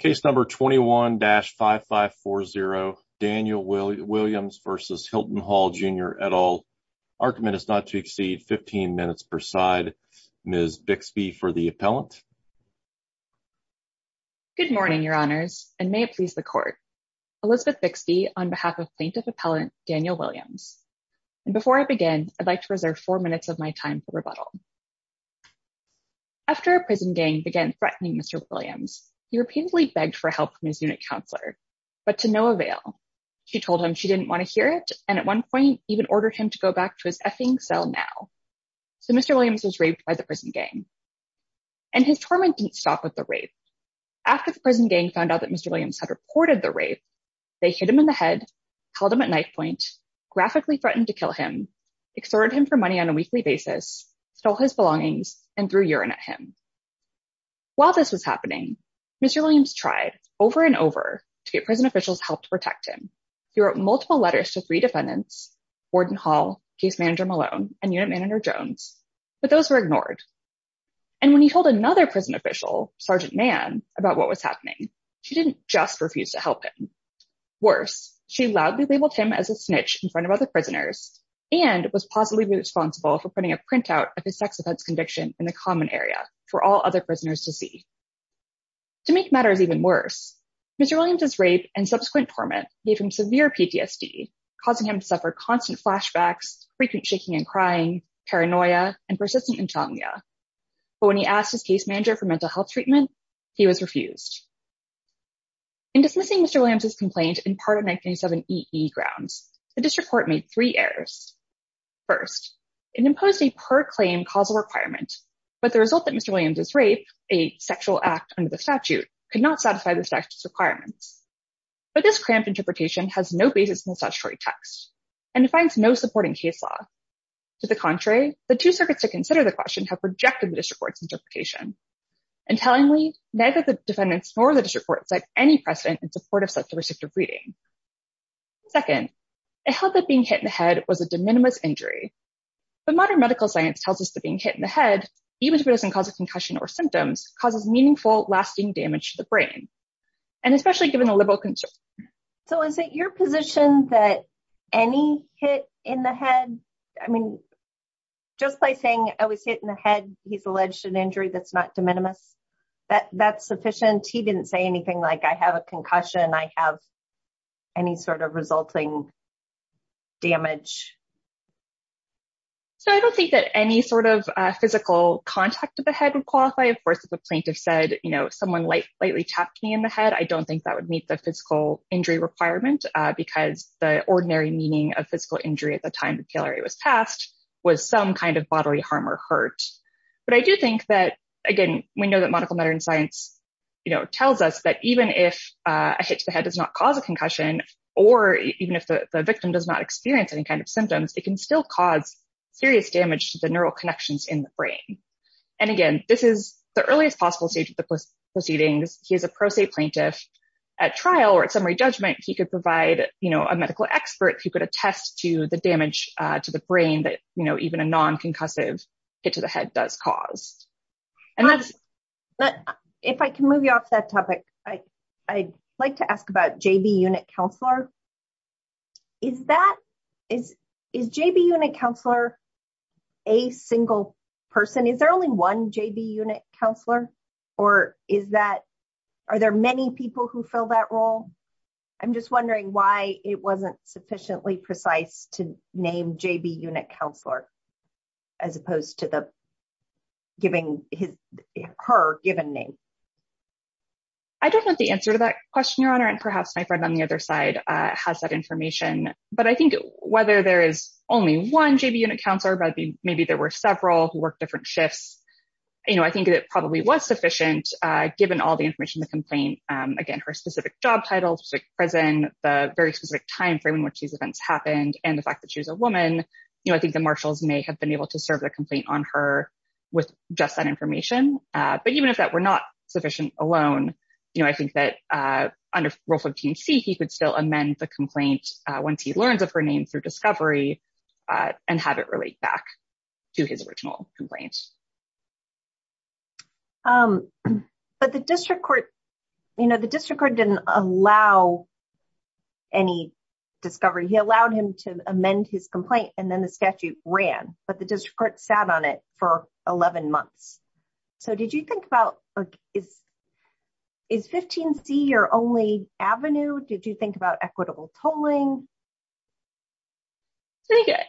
Case number 21-5540 Daniel Williams v. Hilton Hall Jr. et al. Argument is not to exceed 15 minutes per side. Ms. Bixby for the appellant. Good morning, your honors, and may it please the court. Elizabeth Bixby on behalf of plaintiff appellant Daniel Williams. And before I begin, I'd like to preserve four minutes of my time for help from his unit counselor, but to no avail. She told him she didn't want to hear it, and at one point even ordered him to go back to his effing cell now. So Mr. Williams was raped by the prison gang. And his torment didn't stop with the rape. After the prison gang found out that Mr. Williams had reported the rape, they hit him in the head, held him at knife point, graphically threatened to kill him, extorted him for money on a weekly basis, stole his belongings, and threw tried over and over to get prison officials help to protect him. He wrote multiple letters to three defendants, Warden Hall, Case Manager Malone, and Unit Manager Jones, but those were ignored. And when he told another prison official, Sergeant Mann, about what was happening, she didn't just refuse to help him. Worse, she loudly labeled him as a snitch in front of other prisoners and was positively responsible for putting a printout of his sex offense conviction in the common area for all other prisoners to see. To make matters even worse, Mr. Williams's rape and subsequent torment gave him severe PTSD, causing him to suffer constant flashbacks, frequent shaking and crying, paranoia, and persistent insomnia. But when he asked his case manager for mental health treatment, he was refused. In dismissing Mr. Williams's complaint in part of 1997 EE grounds, the district court made three errors. First, it imposed a per claim causal requirement, but the result that Mr. Williams's rape, a sexual act under the statute, could not satisfy the statute's requirements. But this cramped interpretation has no basis in the statutory text and defines no support in case law. To the contrary, the two circuits to consider the question have rejected the district court's interpretation. Entailingly, neither the defendants nor the district court set any precedent in support of such a restrictive reading. Second, it held that being hit in the head was a de minimis injury, but modern medical science tells us that being hit in the head, even if it doesn't cause a concussion or symptoms, causes meaningful lasting damage to the brain. And especially given the liberal concern. So is it your position that any hit in the head, I mean, just by saying I was hit in the head, he's alleged an injury that's not de minimis? That that's sufficient? He didn't say anything like I have a concussion, I have any sort of resulting damage? So I don't think that any sort of physical contact to the head would qualify. Of course, if a plaintiff said, you know, someone like lightly tapped me in the head, I don't think that would meet the physical injury requirement. Because the ordinary meaning of physical injury at the time the PLRA was passed, was some kind of bodily harm or hurt. But I do think that, again, we know that medical matter and science, you know, tells us that even if a hit to the head does not cause a concussion, or even if the victim does not experience any kind of symptoms, it can still cause serious damage to the neural connections in the brain. And again, this is the earliest possible stage of the proceedings, he is a pro se plaintiff, at trial or at summary judgment, he could provide, you know, a medical expert who could attest to the damage to the brain that, you know, even a non concussive hit to the head does cause. And that's, but if I can move you off that topic, I, I like to ask about JB unit counselor. Is that is, is JB unit counselor, a single person? Is there only one JB unit counselor? Or is that, are there many people who fill that role? I'm just wondering why it wasn't sufficiently precise to the giving his her given name? I don't know the answer to that question, Your Honor. And perhaps my friend on the other side has that information. But I think whether there is only one JB unit counselor, but maybe there were several who work different shifts. You know, I think it probably was sufficient, given all the information, the complaint, again, her specific job titles, present the very specific timeframe in which these events happened, and the fact that she's a woman, you know, I think the marshals may have been able to serve the complaint on her with just that information. But even if that were not sufficient alone, you know, I think that under rule 15 C, he could still amend the complaint once he learns of her name through discovery, and have it relate back to his original complaints. But the district court, you know, the district court didn't allow any discovery, he allowed him to amend his complaint, and then the statute ran, but the district court sat on it for 11 months. So did you think about is, is 15 C your only avenue? Did you think about equitable tolling?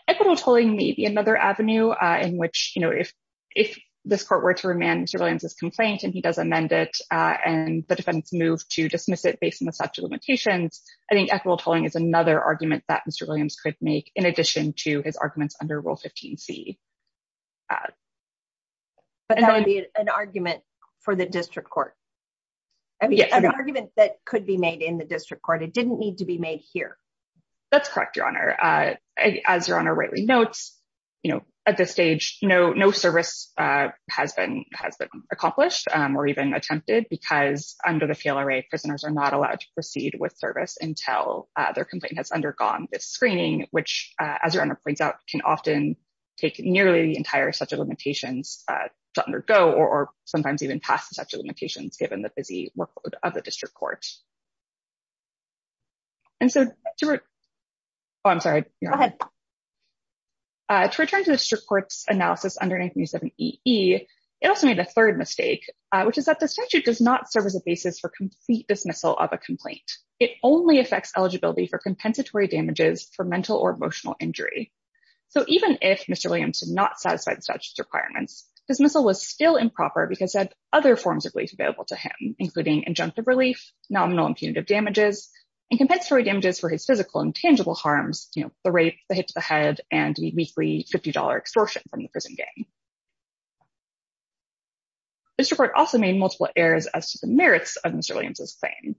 Equitable tolling may be another avenue, in which, you know, if, if this court were to remand Mr. Williams's complaint, and he does amend it, and the defendants move to dismiss it based on the statute of limitations, I think equitable tolling is another argument that Mr. Williams could make in addition to his arguments under rule 15 C. But that would be an argument for the district court. I mean, an argument that could be made in the district court, it didn't need to be made here. That's correct, Your Honor. As Your Honor rightly notes, you know, at this stage, no, no service has been has been accomplished, or even attempted, because under the fail array, prisoners are not allowed to proceed with service until their complaint has undergone this screening, which, as Your Honor points out, can often take nearly the entire statute of limitations to undergo, or sometimes even pass the statute of limitations, given the busy workload of the district court. And so, oh, I'm sorry. Go ahead. To return to the district court's analysis under 937EE, it also made a third mistake, which is that the statute does not serve as a basis for complete dismissal of a complaint. It only affects eligibility for compensatory damages for mental or emotional injury. So even if Mr. Williams did not satisfy the statute's requirements, dismissal was still improper because it had other forms of relief available to him, including injunctive relief, nominal and punitive damages, and compensatory damages for his physical and tangible harms, you know, the rape, the hit to the head, and the weekly $50 extortion from the prison gang. The district court also made multiple errors as to the merits of Mr. Williams' claim.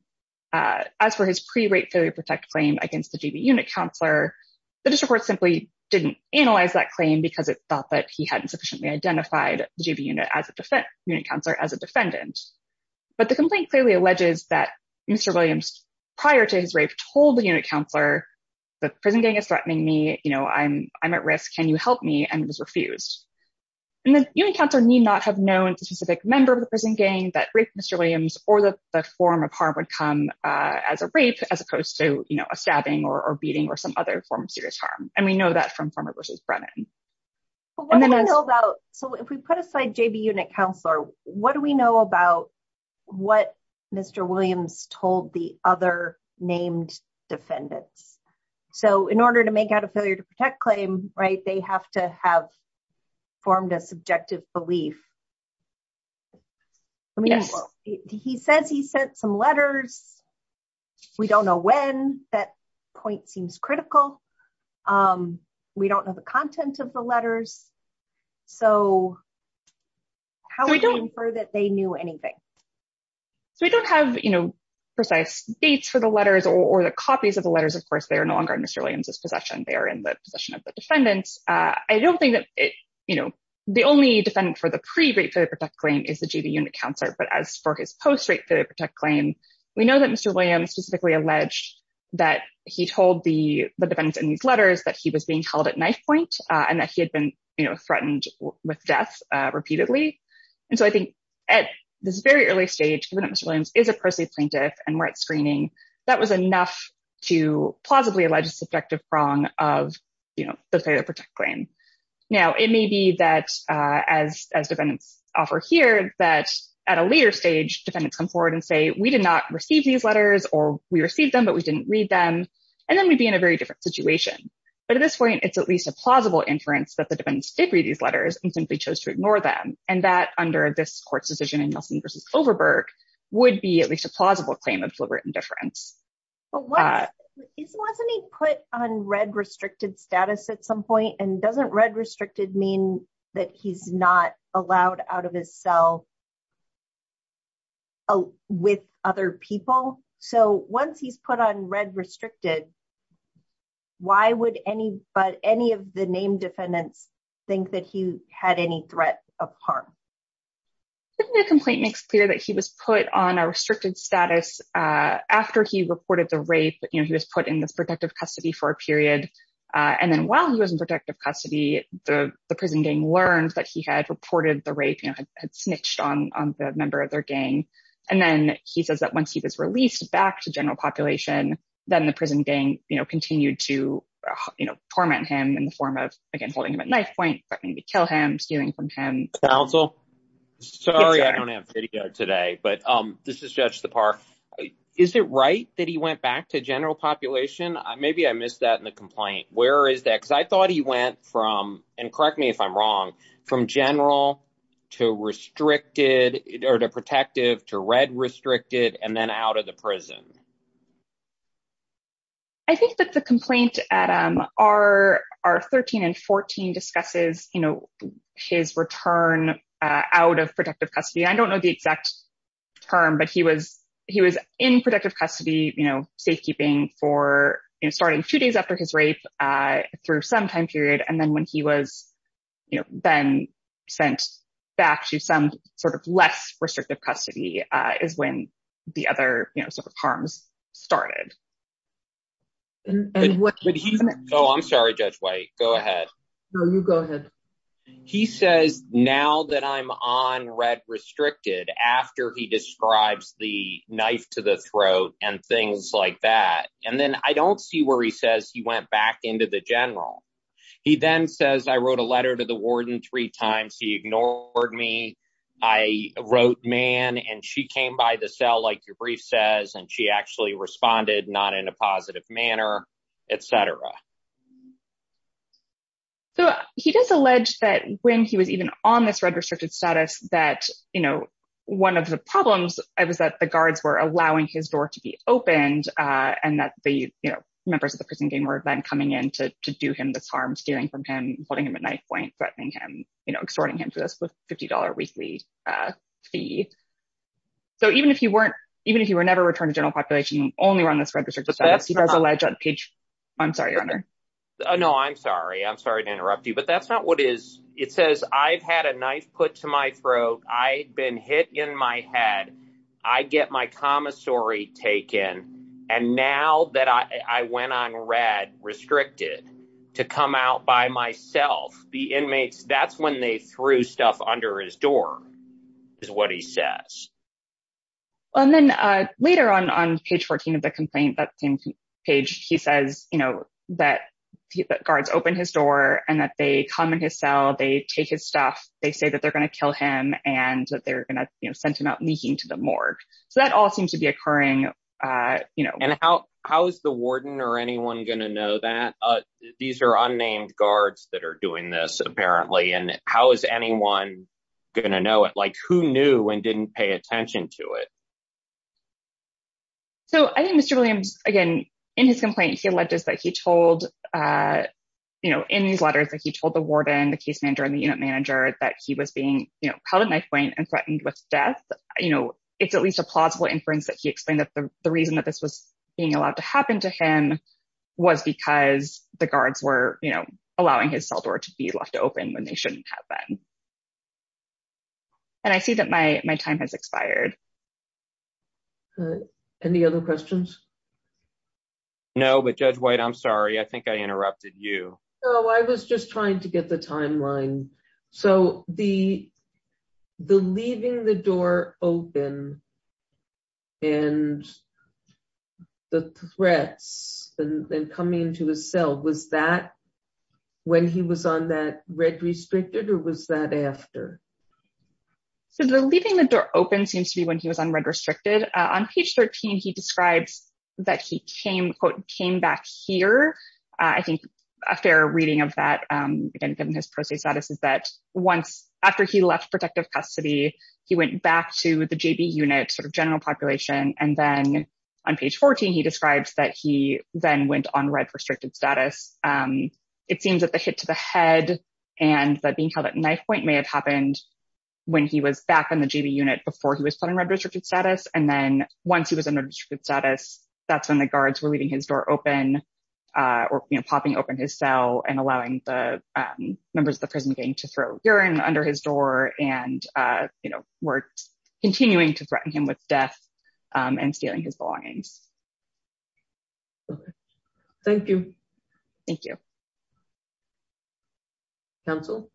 As for his pre-rape failure protect claim against the GB unit counselor, the district court simply didn't analyze that claim because it thought that he hadn't sufficiently identified the GB unit counselor as a defendant. But the complaint clearly alleges that Mr. Williams, prior to his rape, told the unit counselor, the prison gang is threatening me, I'm at risk, can you help me? And it was refused. And the unit counselor need not have known the specific member of the prison gang that raped Mr. Williams or the form of harm would come as a rape, as opposed to, you know, a stabbing or beating or some other form of serious harm. And we know that from former versus Brennan. But what do we know about, so if we put aside JB unit counselor, what do we know about what Mr. Williams told the other named defendants? So in order to make out a failure to protect claim, right, they have to have formed a subjective belief. He says he sent some letters. We don't know when, that point seems critical. We don't know the content of the letters. So how do we infer that they knew anything? So we don't have, you know, precise dates for the letters or the copies of the letters. Of course, they are no longer in Mr. Williams' possession. They are in the possession of the defendants. I don't think that, you know, the only defendant for the pre-rape failure to protect claim is the JB unit counselor. But as for his post-rape failure to protect claim, we know that Mr. Williams specifically alleged that he told the defendants in these letters that he was being held at knife point and that he had been, you know, threatened with death repeatedly. And so I think at this very early stage, given that Mr. Williams is a post-rape plaintiff and we're at screening, that was enough to plausibly allege a subjective wrong of, you know, the failure to protect claim. Now, it may be that as defendants offer here, that at a later stage, defendants come forward and say, we did not receive these letters or we received them, but we didn't read them. And then we'd be in a very different situation. But at this point, it's at least a plausible inference that the defendants did read these letters and simply chose to ignore them. And that under this court's decision in Nelson versus Kloverberg would be at least a plausible claim of deliberate indifference. But wasn't he put on red restricted status at some point? And doesn't red restricted mean that he's not allowed out of his cell with other people? So once he's put on red restricted, why would any of the named defendants think that he had any threat of harm? The complaint makes clear that he was put on a restricted status after he reported the rape. You know, he was put in this protective custody for a period. And then while he was in protective custody, the prison gang learned that he had reported the rape, you know, had snitched on the member of their gang. And then he says that once he was released back to general population, then the prison gang, you know, continued to, you know, torment him in the form of, again, holding him at knife point, threatening to kill him, stealing from him. Counsel? Sorry, I don't have video today. But this is Judge Sipar. Is it right that he went back to general population? Maybe I missed that in the complaint. Where is that? Because I thought he went from, and correct me if I'm wrong, from general to restricted or to protective to red prison? I think that the complaint at R13 and R14 discusses, you know, his return out of protective custody. I don't know the exact term, but he was in protective custody, you know, safekeeping for, you know, starting two days after his rape, through some time period. And then when he was, you know, then sent back to some sort of less restrictive custody is when the other, you know, sort of harms started. Oh, I'm sorry, Judge White. Go ahead. No, you go ahead. He says, now that I'm on red restricted, after he describes the knife to the throat and things like that, and then I don't see where he says he went back into the general. He then says, I wrote a letter to the warden three times. He and she actually responded not in a positive manner, et cetera. So he does allege that when he was even on this red restricted status, that, you know, one of the problems was that the guards were allowing his door to be opened and that the, you know, members of the prison gang were then coming in to do him this harm, stealing from him, holding him at knife point, threatening him, you know, extorting him to this $50 weekly fee. So even if you weren't, even if you were never returned to general population, only run this red restricted status, he does allege on page. I'm sorry, your honor. No, I'm sorry. I'm sorry to interrupt you, but that's not what it is. It says I've had a knife put to my throat. I been hit in my head. I get my commissory taken. And now that I went on red restricted to come out by myself, the inmates, that's when they threw stuff under his door, is what he says. Well, and then later on, on page 14 of the complaint, that same page, he says, you know, that the guards opened his door and that they come in his cell, they take his stuff. They say that they're going to kill him and that they're going to, you know, send him out leaking to the morgue. So that all seems to be occurring. You know, and how, how is the warden or anyone going to know that these are unnamed guards that are doing this apparently? And how is anyone going to know it? Like who knew and didn't pay attention to it? So I think Mr. Williams, again, in his complaint, he alleged that he told, you know, in these letters that he told the warden, the case manager and the unit manager that he was being held at knife point and threatened with death. You know, it's at least plausible inference that he explained that the reason that this was being allowed to happen to him was because the guards were, you know, allowing his cell door to be left open when they shouldn't have been. And I see that my, my time has expired. Any other questions? No, but Judge White, I'm sorry. I think I interrupted you. No, I was just trying to get the timeline. So the, the leaving the door open and the threats and coming into his cell, was that when he was on that red restricted or was that after? So the leaving the door open seems to be when he was on red restricted. On page 13, he describes that he came, quote, came back here. I think a fair reading of that, given his prostate status is that once, after he left protective custody, he went back to the JB unit, sort of general population. And then on page 14, he describes that he then went on red restricted status. It seems that the hit to the head and that being held at knife point may have happened when he was back in the JB unit before he was put in red restricted status. And then once he was in red restricted status, that's when the guards were leaving his door open, or popping open his cell and allowing the members of the prison gang to throw urine under his door. And, you know, we're continuing to threaten him with death and stealing his belongings. Thank you. Thank you. Counsel.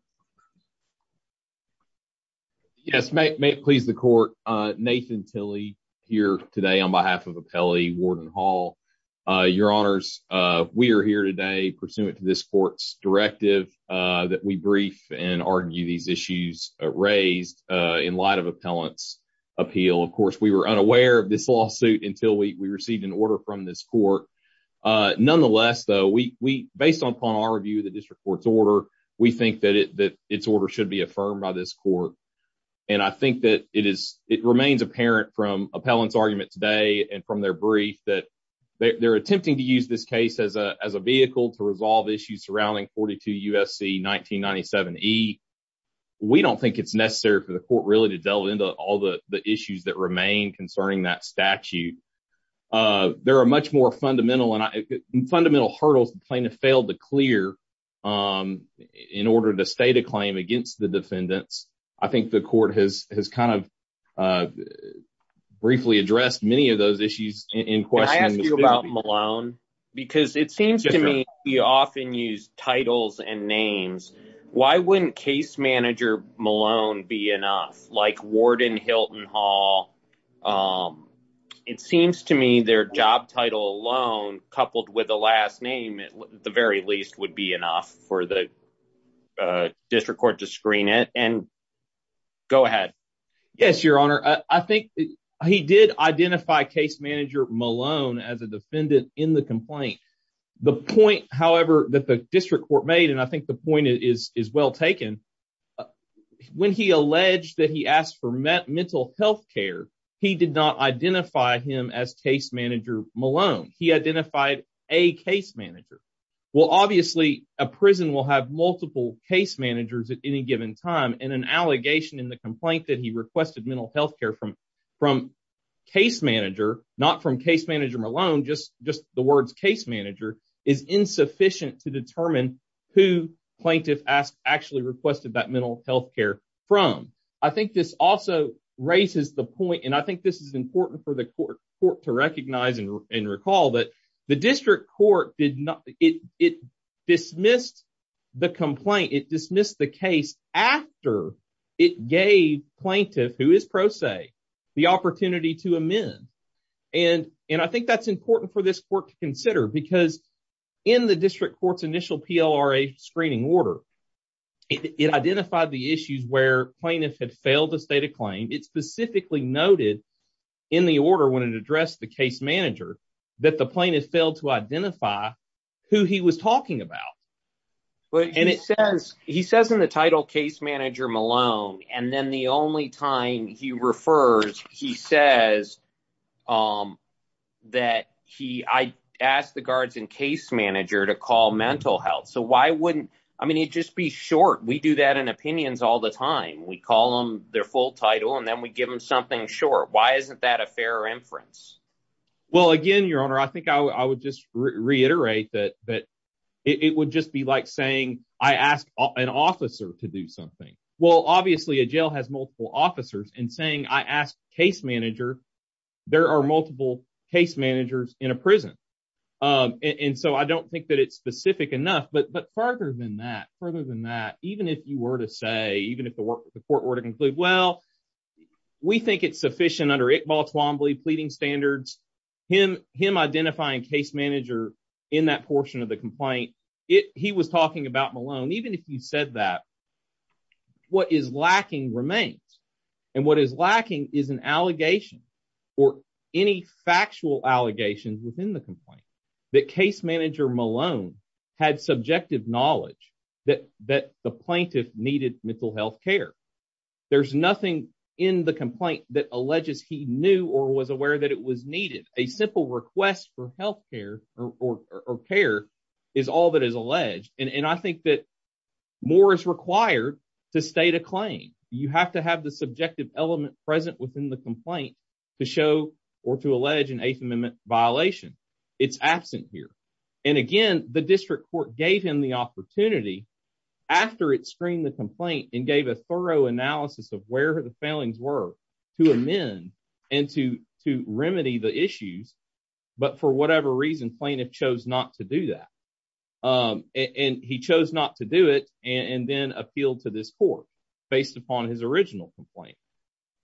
Yes, may it please the court. Nathan Tilley here today on behalf of Appellee Warden Hall. Your Honors, we are here today pursuant to this court's directive that we brief and argue these issues raised in light of appellants appeal. Of course, we were unaware of this lawsuit until we received an order from this court. Nonetheless, though, we based upon our review of the district court's order. We think that it that its order should be affirmed by this court. And I think that it is it remains apparent from appellants argument today and from their brief that they're attempting to use this case as a as a vehicle to resolve issues surrounding 42 USC 1997 E. We don't think it's necessary for the court really to delve into all the issues that remain concerning that statute. There are much more fundamental and fundamental hurdles the clear in order to state a claim against the defendants. I think the court has has kind of briefly addressed many of those issues in question about Malone, because it seems to me you often use titles and names. Why wouldn't case manager Malone be enough like Warden Hilton Hall? Um, it seems to me their job title alone, coupled with the last name, the very least would be enough for the district court to screen it and go ahead. Yes, your honor. I think he did identify case manager Malone as a defendant in the complaint. The point, however, that the district court made, and I think the point is is well taken when he alleged that he asked for mental health care. He did not identify him as case manager Malone. He identified a case manager. Well, obviously, a prison will have multiple case managers at any given time and an allegation in the complaint that he requested mental health care from from case manager, not from case manager Malone, just just the words case manager is insufficient to determine who plaintiff asked actually requested that mental health care from. I think this also raises the point, and I think this is important for the court to recognize and recall that the district court did not. It dismissed the complaint. It dismissed the case after it gave plaintiff, who is pro se, the opportunity to amend. And and I think that's important for this court to consider because in the district court's initial PLRA screening order, it identified the issues where plaintiff had failed to state a claim. It specifically noted in the order when it addressed the case manager that the plaintiff failed to identify who he was talking about. But and it says he says in the title case manager Malone, and then the only time he refers, he says that he asked the guards in case manager to call mental health. So why wouldn't I mean, it just be short. We do that in opinions all the time. We call them their full title and then we give them something short. Why isn't that a fair inference? Well, again, your honor, I think I would just reiterate that that it would just be like saying I asked an officer to do something. Well, obviously, a jail has multiple officers and saying I asked case manager. There are multiple case managers in a prison. And so I don't think that it's specific enough. But but farther than that, further than that, even if you were to say even if the court were to conclude, well, we think it's sufficient under Iqbal Twombly pleading standards, him him identifying case manager in that portion of the remains. And what is lacking is an allegation or any factual allegations within the complaint that case manager Malone had subjective knowledge that that the plaintiff needed mental health care. There's nothing in the complaint that alleges he knew or was aware that it was needed. A simple request for health care or care is all that is alleged. And I think that more is required to state a claim. You have to have the subjective element present within the complaint to show or to allege an eighth amendment violation. It's absent here. And again, the district court gave him the opportunity after it screened the complaint and gave a thorough analysis of where the failings were to amend and to to remedy the issues. But for whatever reason, plaintiff chose not to do that and he chose not to do it and then appealed to this court based upon his original complaint.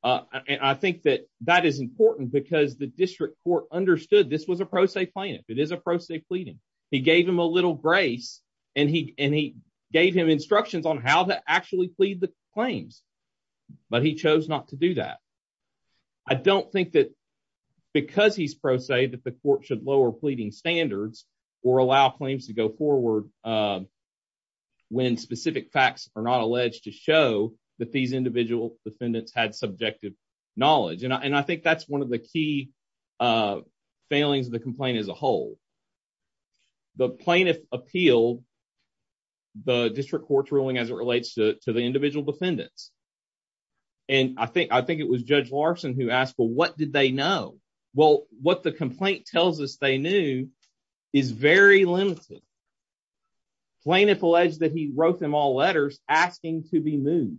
And I think that that is important because the district court understood this was a pro se plaintiff. It is a pro se pleading. He gave him a little grace and he and he gave him instructions on how to actually plead the claims. But he chose not to do that. I don't think that because he's pro se that the court should lower pleading standards or allow claims to go forward when specific facts are not alleged to show that these individual defendants had subjective knowledge. And I think that's one of the key failings of the complaint as a whole. The plaintiff appealed the district court's ruling as it relates to the individual defendants. And I think I think it was Judge Larson who asked, well, what did they know? Well, what the complaint tells us they knew is very limited. Plaintiff alleged that he wrote them all letters asking to be moved.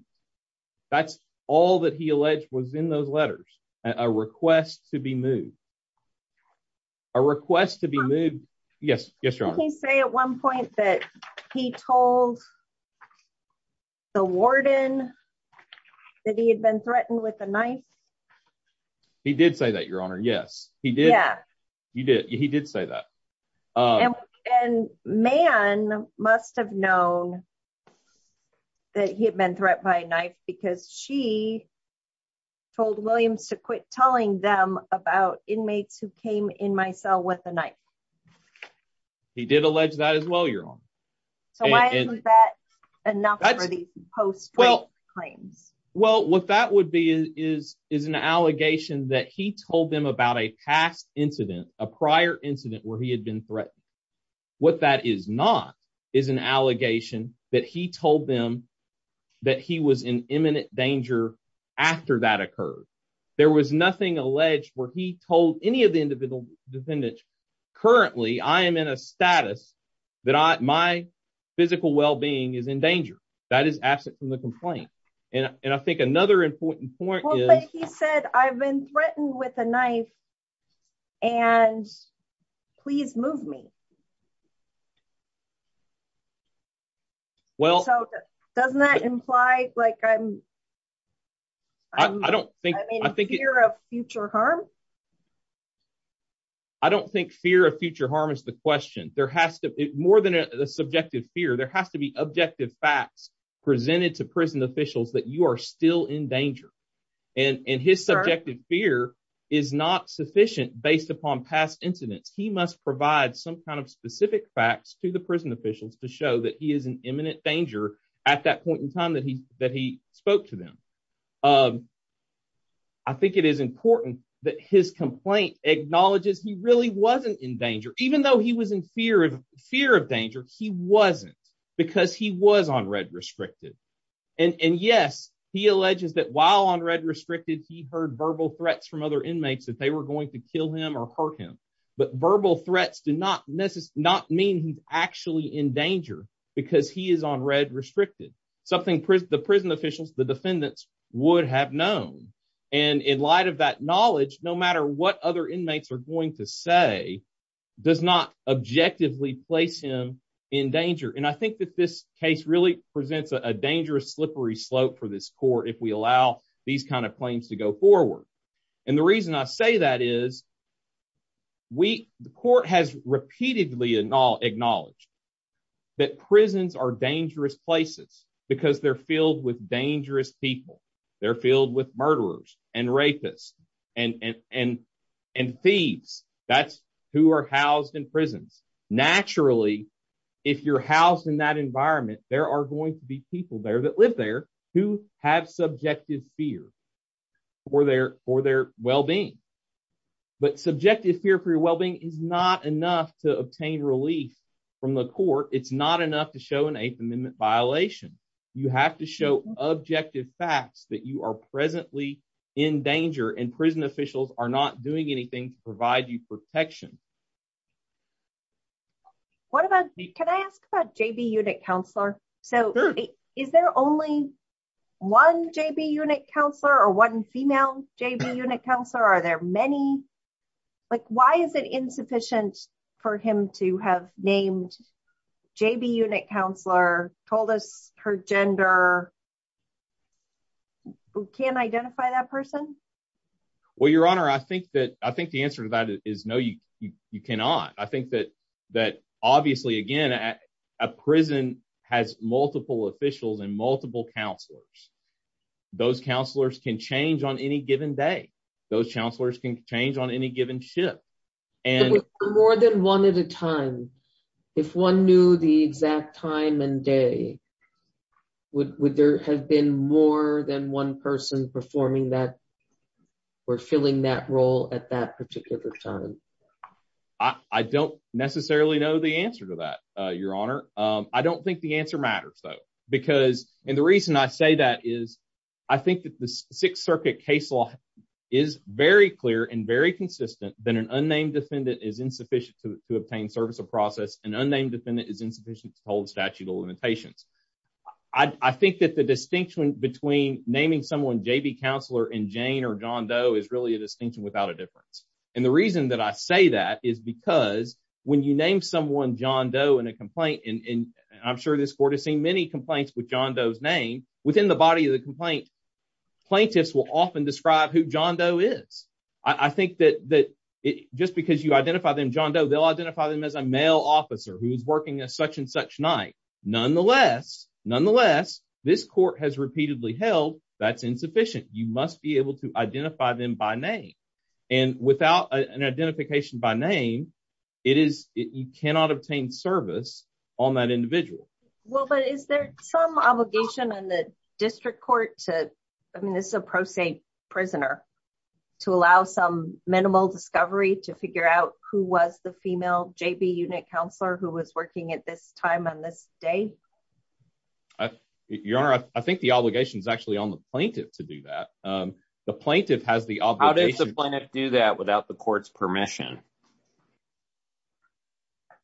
That's all that he alleged was in those letters. A request to be moved. A request to be moved. Yes. Yes. You can say at one point that he told the warden that he had been threatened with a knife. He did say that, Your Honor. Yes, he did. Yeah, you did. He did say that. And man must have known that he had been threatened by a knife because she told Williams to quit telling them about inmates who came in my cell with a knife. He did allege that as well, Your Honor. So why isn't that enough for the post-trait claims? Well, what that would be is is an allegation that he told them about a past incident, a prior incident where he had been threatened. What that is not is an allegation that he told them that he was in imminent danger after that occurred. There was nothing alleged where he told any of the individual defendants. Currently, I am in a status that my physical well-being is in danger. That is absent from the complaint. And I think another important point is he said, I've been threatened with a knife and please move me. Well, doesn't that imply like I'm I don't think I think you're a future harm. I don't think fear of future harm is the question. There has to be more than a subjective fear. There has to be objective facts presented to prison officials that you are still in danger. And his subjective fear is not sufficient based upon past incidents. He must provide some kind of specific facts to the prison officials to show that he is in imminent danger at that point in his complaint acknowledges he really wasn't in danger, even though he was in fear of fear of danger. He wasn't because he was on red restricted. And yes, he alleges that while on red restricted, he heard verbal threats from other inmates that they were going to kill him or hurt him. But verbal threats do not not mean he's actually in danger, because he is on red restricted, something the prison officials, the defendants would have known. And in light of that knowledge, no matter what other inmates are going to say, does not objectively place him in danger. And I think that this case really presents a dangerous slippery slope for this court if we allow these kind of claims to go forward. And the reason I say that is we the court has repeatedly and all acknowledged that prisons are dangerous places, because they're filled with dangerous people. They're filled with murderers, and rapists, and thieves. That's who are housed in prisons. Naturally, if you're housed in that environment, there are going to be people there that live there who have subjective fear for their well being. But subjective fear for your well being is not enough to obtain relief from the court. It's not enough to show an Eighth Amendment violation. You have to show objective facts that you are presently in danger and prison officials are not doing anything to provide you protection. What about me? Can I ask about JB unit counselor? So is there only one JB unit counselor or one female JB unit counselor? Are there many? Like why is it insufficient for him to have named JB unit counselor told us her gender can identify that person? Well, Your Honor, I think that I think the answer to that is no, you cannot. I think that, that obviously, again, a prison has multiple officials and multiple counselors. Those counselors can change on any given day. Those counselors can change on any given ship. And more than one at a time. If one knew the exact time and day, would there have been more than one person performing that or filling that role at that particular time? I don't necessarily know the answer to that, Your Honor. I don't think the answer matters, though. Because and the reason I say that is, I think that the Sixth Circuit case law is very clear and very consistent than an unnamed defendant is insufficient to obtain service of process. An unnamed defendant is insufficient to hold statute of limitations. I think that the distinction between naming someone JB counselor in Jane or John Doe is really a distinction without a difference. And the reason that I say that is because when you name someone John Doe in a complaint, and I'm sure this court has seen many complaints with John Doe's name within the body of the complaint, plaintiffs will often describe who John Doe is. I think that just because you identify them John Doe, they'll identify them as a male officer who's working at such and such night. Nonetheless, this court has repeatedly held that's insufficient. You must be able to identify them by name. And without an identification by name, it is you cannot obtain service on that individual. Well, but is there some obligation on the district court to I mean, this is a pro se, prisoner, to allow some minimal discovery to figure out who was the female JB unit counselor who was working at this time on this day? Your Honor, I think the obligation is actually on the plaintiff to do that. The plaintiff has the obligation to do that without the court's permission.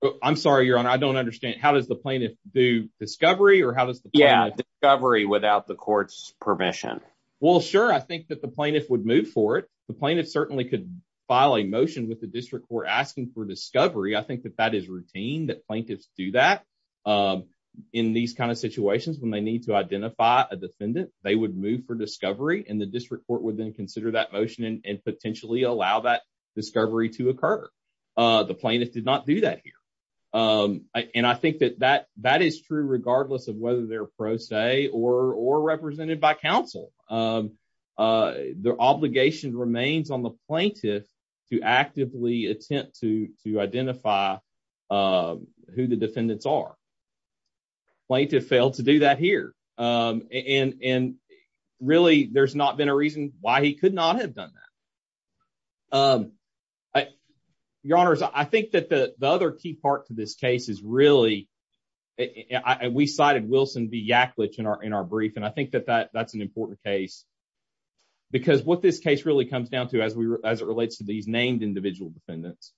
Oh, I'm sorry, Your Honor. I don't understand. How does the plaintiff do discovery? Or how does the yeah, discovery without the court's permission? Well, sure. I think that the plaintiff would move for it. The plaintiff certainly could file a motion with the district court asking for discovery. I think that that is routine that plaintiffs do that. In these kinds of situations, when they need to identify a defendant, they would move for discovery and the district court would then consider that motion and potentially allow that discovery to occur. The plaintiff did not do that here. And I think that that that is true regardless of whether they're pro se or or represented by counsel. Their obligation remains on the plaintiff to actively attempt to identify who the defendants are. plaintiff failed to do that here. And really, there's not been a reason why he could not have done that. Your Honors, I think that the other key part to this case is really, we cited Wilson v. Yacklidge in our in our brief. And I think that that that's an important case. Because what this case really comes down to as we as it relates to these named individual defendants,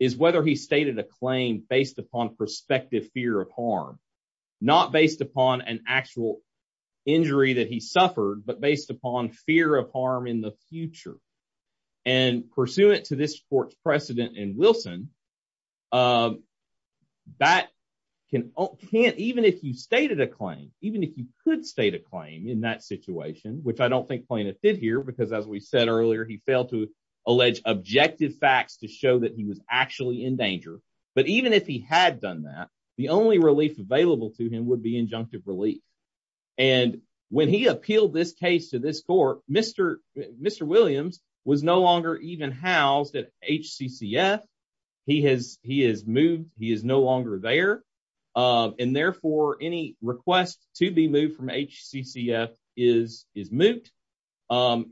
is whether he stated a claim based upon prospective fear of harm, not based upon an actual injury that he suffered, but based upon fear of harm in the future. And pursuant to this court's precedent in Wilson, that can can't even if you stated a claim, even if you could state a claim in that situation, which I don't think plaintiff did here, because as we said earlier, he failed to allege objective facts to show that he was actually in danger. But even if he had done that, the only relief available to him would be injunctive relief. And when he appealed this case to this court, Mr. Mr. Williams was no longer even housed at HCCF. He has he is moved, he is no longer there. And therefore any request to be moved from HCCF is is moot.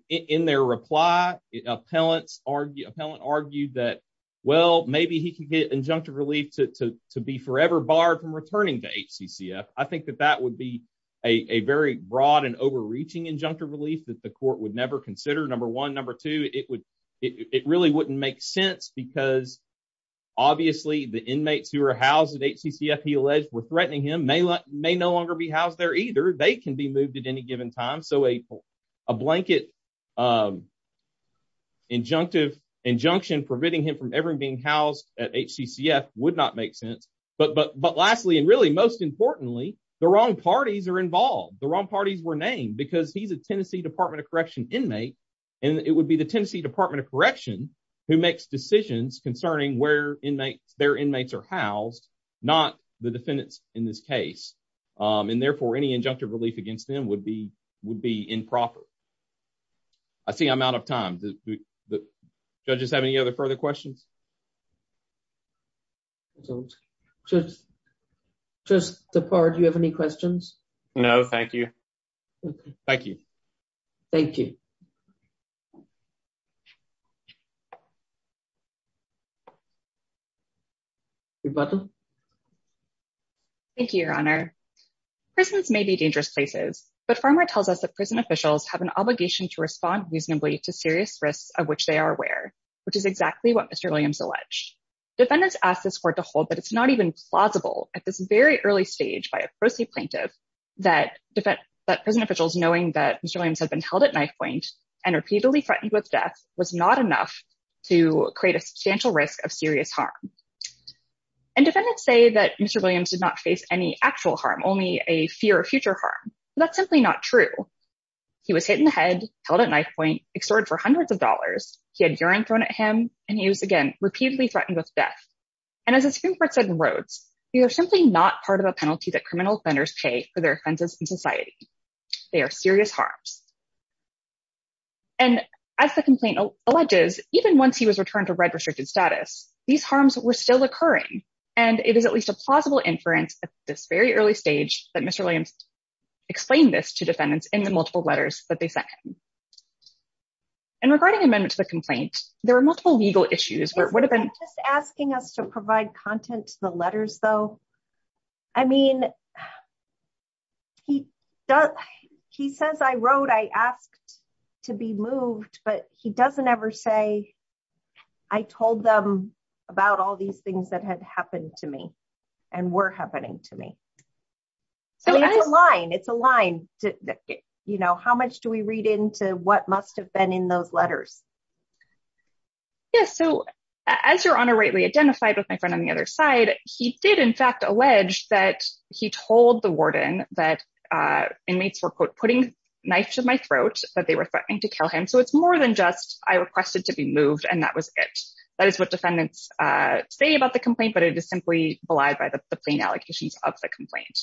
In their reply, appellants appellant argued that, well, maybe he can get injunctive relief to be forever barred from returning to HCCF. I think that that would be a very broad and overreaching injunctive relief that the court would never consider. Number one, number two, it would, it really wouldn't make sense because obviously, the inmates who are housed at HCCF, he alleged were threatening him may not may no longer be housed there either. They can be moved at any given time. So a blanket um injunctive injunction preventing him from ever being housed at HCCF would not make sense. But but but lastly, and really, most importantly, the wrong parties are involved. The wrong parties were named because he's a Tennessee Department of Correction inmate. And it would be the Tennessee Department of Correction who makes decisions concerning where inmates their inmates are housed, not the defendants in this case. And therefore any injunctive relief against them would be improper. I see I'm out of time. Do the judges have any other further questions? Just the part you have any questions? No, thank you. Thank you. Thank you. Thank you, Your Honor. Prisons may be dangerous places, but Farmer tells us that prison officials have an obligation to respond reasonably to serious risks of which they are aware, which is exactly what Mr. Williams alleged. Defendants asked this court to hold that it's not even plausible at this very early stage by a pro se plaintiff that defense that prison was not enough to create a substantial risk of serious harm. And defendants say that Mr. Williams did not face any actual harm, only a fear of future harm. That's simply not true. He was hit in the head held at knife point extorted for hundreds of dollars. He had urine thrown at him and he was again repeatedly threatened with death. And as a Supreme Court said in Rhodes, you're simply not part of a penalty that criminal offenders pay for their offenses in society. They are serious harms. And as the complaint alleges, even once he was returned to red restricted status, these harms were still occurring. And it is at least a plausible inference at this very early stage that Mr. Williams explained this to defendants in the multiple letters that they sent him. And regarding amendments to the complaint, there are multiple legal issues where it would have been asking us to provide content to the he says, I wrote, I asked to be moved, but he doesn't ever say, I told them about all these things that had happened to me and were happening to me. So it's a line, it's a line. You know, how much do we read into what must have been in those letters? Yes. So as your honor rightly identified with my friend on the other side, he did in fact, alleged that he told the warden that inmates were putting knife to my throat, but they were threatening to kill him. So it's more than just, I requested to be moved. And that was it. That is what defendants say about the complaint, but it is simply belied by the plain allocations of the complaint.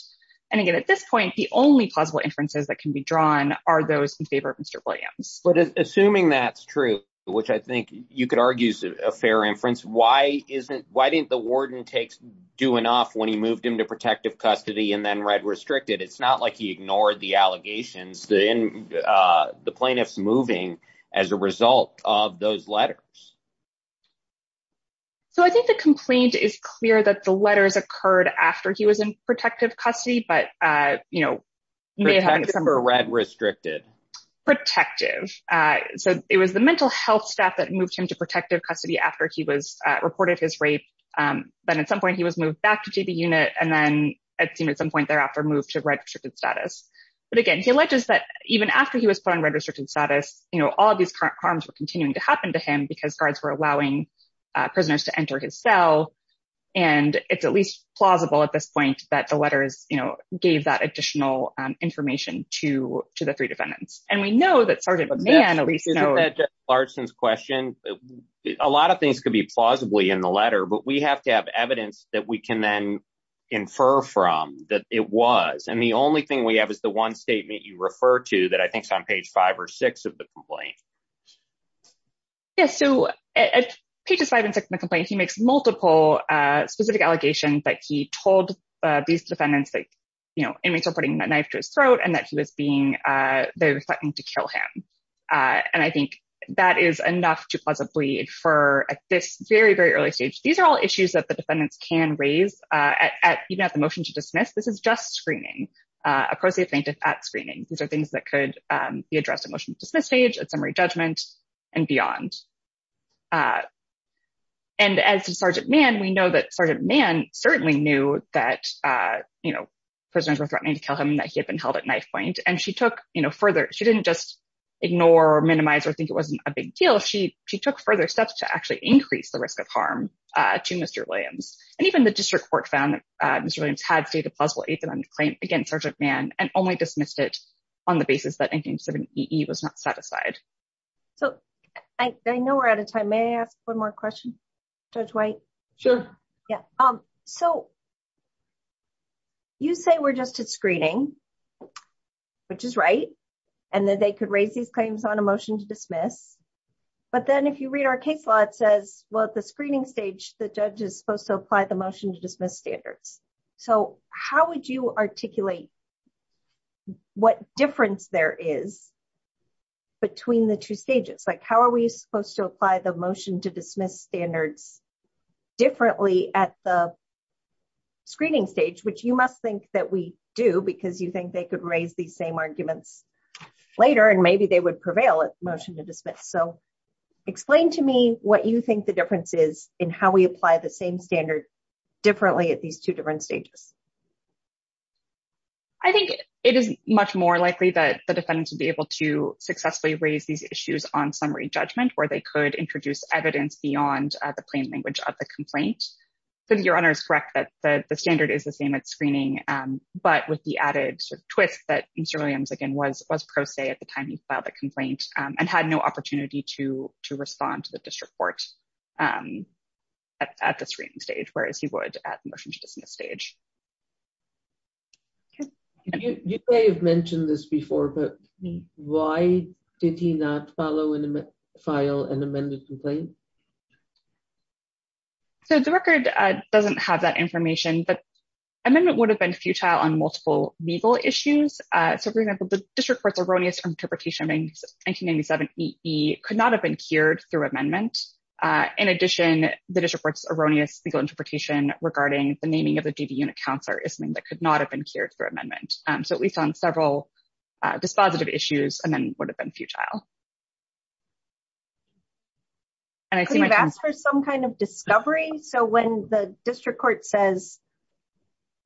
And again, at this point, the only possible inferences that can be drawn are those in favor of Mr. Williams. But assuming that's true, which I think you could argue is a fair inference. Why didn't the warden do enough when he moved him to protective custody and then read restricted? It's not like he ignored the allegations, the plaintiff's moving as a result of those letters. So I think the complaint is clear that the letters occurred after he was in protective custody, but, you know. Red restricted. Protective. So it was the mental health staff that moved him to protective custody after he was reported his rape. Then at some point he was moved back to the unit. And then it seemed at some point thereafter moved to red restricted status. But again, he alleges that even after he was put on red restricted status, you know, all of these current crimes were continuing to happen to him because guards were allowing prisoners to enter his cell. And it's at least plausible at this point that the letters, you know, gave that additional information to the defendants. And we know that Sergeant McMahon, at least, you know. That's Larson's question. A lot of things could be plausibly in the letter, but we have to have evidence that we can then infer from that it was. And the only thing we have is the one statement you refer to that I think is on page five or six of the complaint. Yes. So at pages five and six in the complaint, he makes multiple specific allegations that he told these defendants that, you know, inmates were putting a knife to his throat and that he was they were threatening to kill him. And I think that is enough to plausibly infer at this very, very early stage. These are all issues that the defendants can raise at even at the motion to dismiss. This is just screening, a pro se plaintiff at screening. These are things that could be addressed at motion to dismiss stage, at summary judgment and beyond. And as to Sergeant Mann, we know that Sergeant Mann certainly knew that, you know, prisoners were threatening to kill him and that he had been held at knifepoint. And she took, you know, further. She didn't just ignore or minimize or think it wasn't a big deal. She she took further steps to actually increase the risk of harm to Mr. Williams. And even the district court found that Mr. Williams had stated a plausible eighth amendment claim against Sergeant Mann and only dismissed it on the basis that 187EE was not satisfied. So I know we're out of time. May I ask one more question? Judge White? Sure. Yeah. So you say we're just at screening, which is right. And that they could raise these claims on a motion to dismiss. But then if you read our case law, it says, well, at the screening stage, the judge is supposed to apply the motion to dismiss standards. So how would you articulate what difference there is between the two stages? Like how are we supposed to apply the motion to dismiss standards differently at the screening stage, which you must think that we do because you think they could raise these same arguments later and maybe they would prevail at motion to dismiss. So explain to me what you think the difference is in how we apply the same standard differently at these two different stages. I think it is much more likely that the defendant would be able to successfully raise these issues on summary judgment where they could introduce evidence beyond the plain language of the complaint. Your Honor is correct that the standard is the same at screening, but with the added sort of twist that Mr. Williams, again, was pro se at the time he filed the complaint and had no opportunity to respond to the district court at the screening stage, whereas he would at the motion to dismiss stage. You may have mentioned this before, but why did he not follow and file an amended complaint? So the record doesn't have that information, but amendment would have been futile on multiple legal issues. So, for example, the district court's erroneous interpretation of 1997-EE could not have been cured through amendment. In addition, the district court's erroneous legal interpretation regarding the naming of the JV unit counselor is something that could not have been cured through amendment. So we found several dispositive issues and then would have been futile. Could you have asked for some kind of discovery? So when the district court says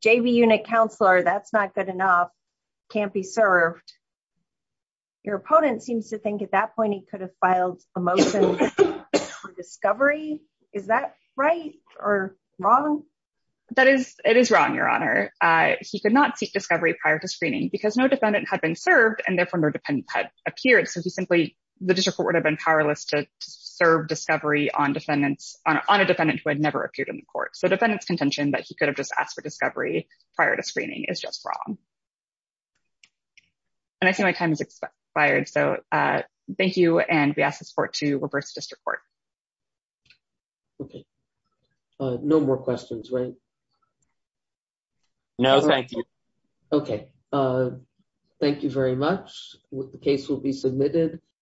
JV unit counselor, that's not good enough, can't be served, your opponent seems to think at that wrong? That is, it is wrong, your honor. He could not seek discovery prior to screening because no defendant had been served and therefore no defendant had appeared. So he simply, the district court would have been powerless to serve discovery on defendants, on a defendant who had never appeared in the court. So defendant's contention that he could have just asked for discovery prior to screening is just wrong. And I see my time has expired, so thank you, and we ask this court to reverse the district court. Okay, no more questions, right? No, thank you. Okay, thank you very much. The case will be submitted.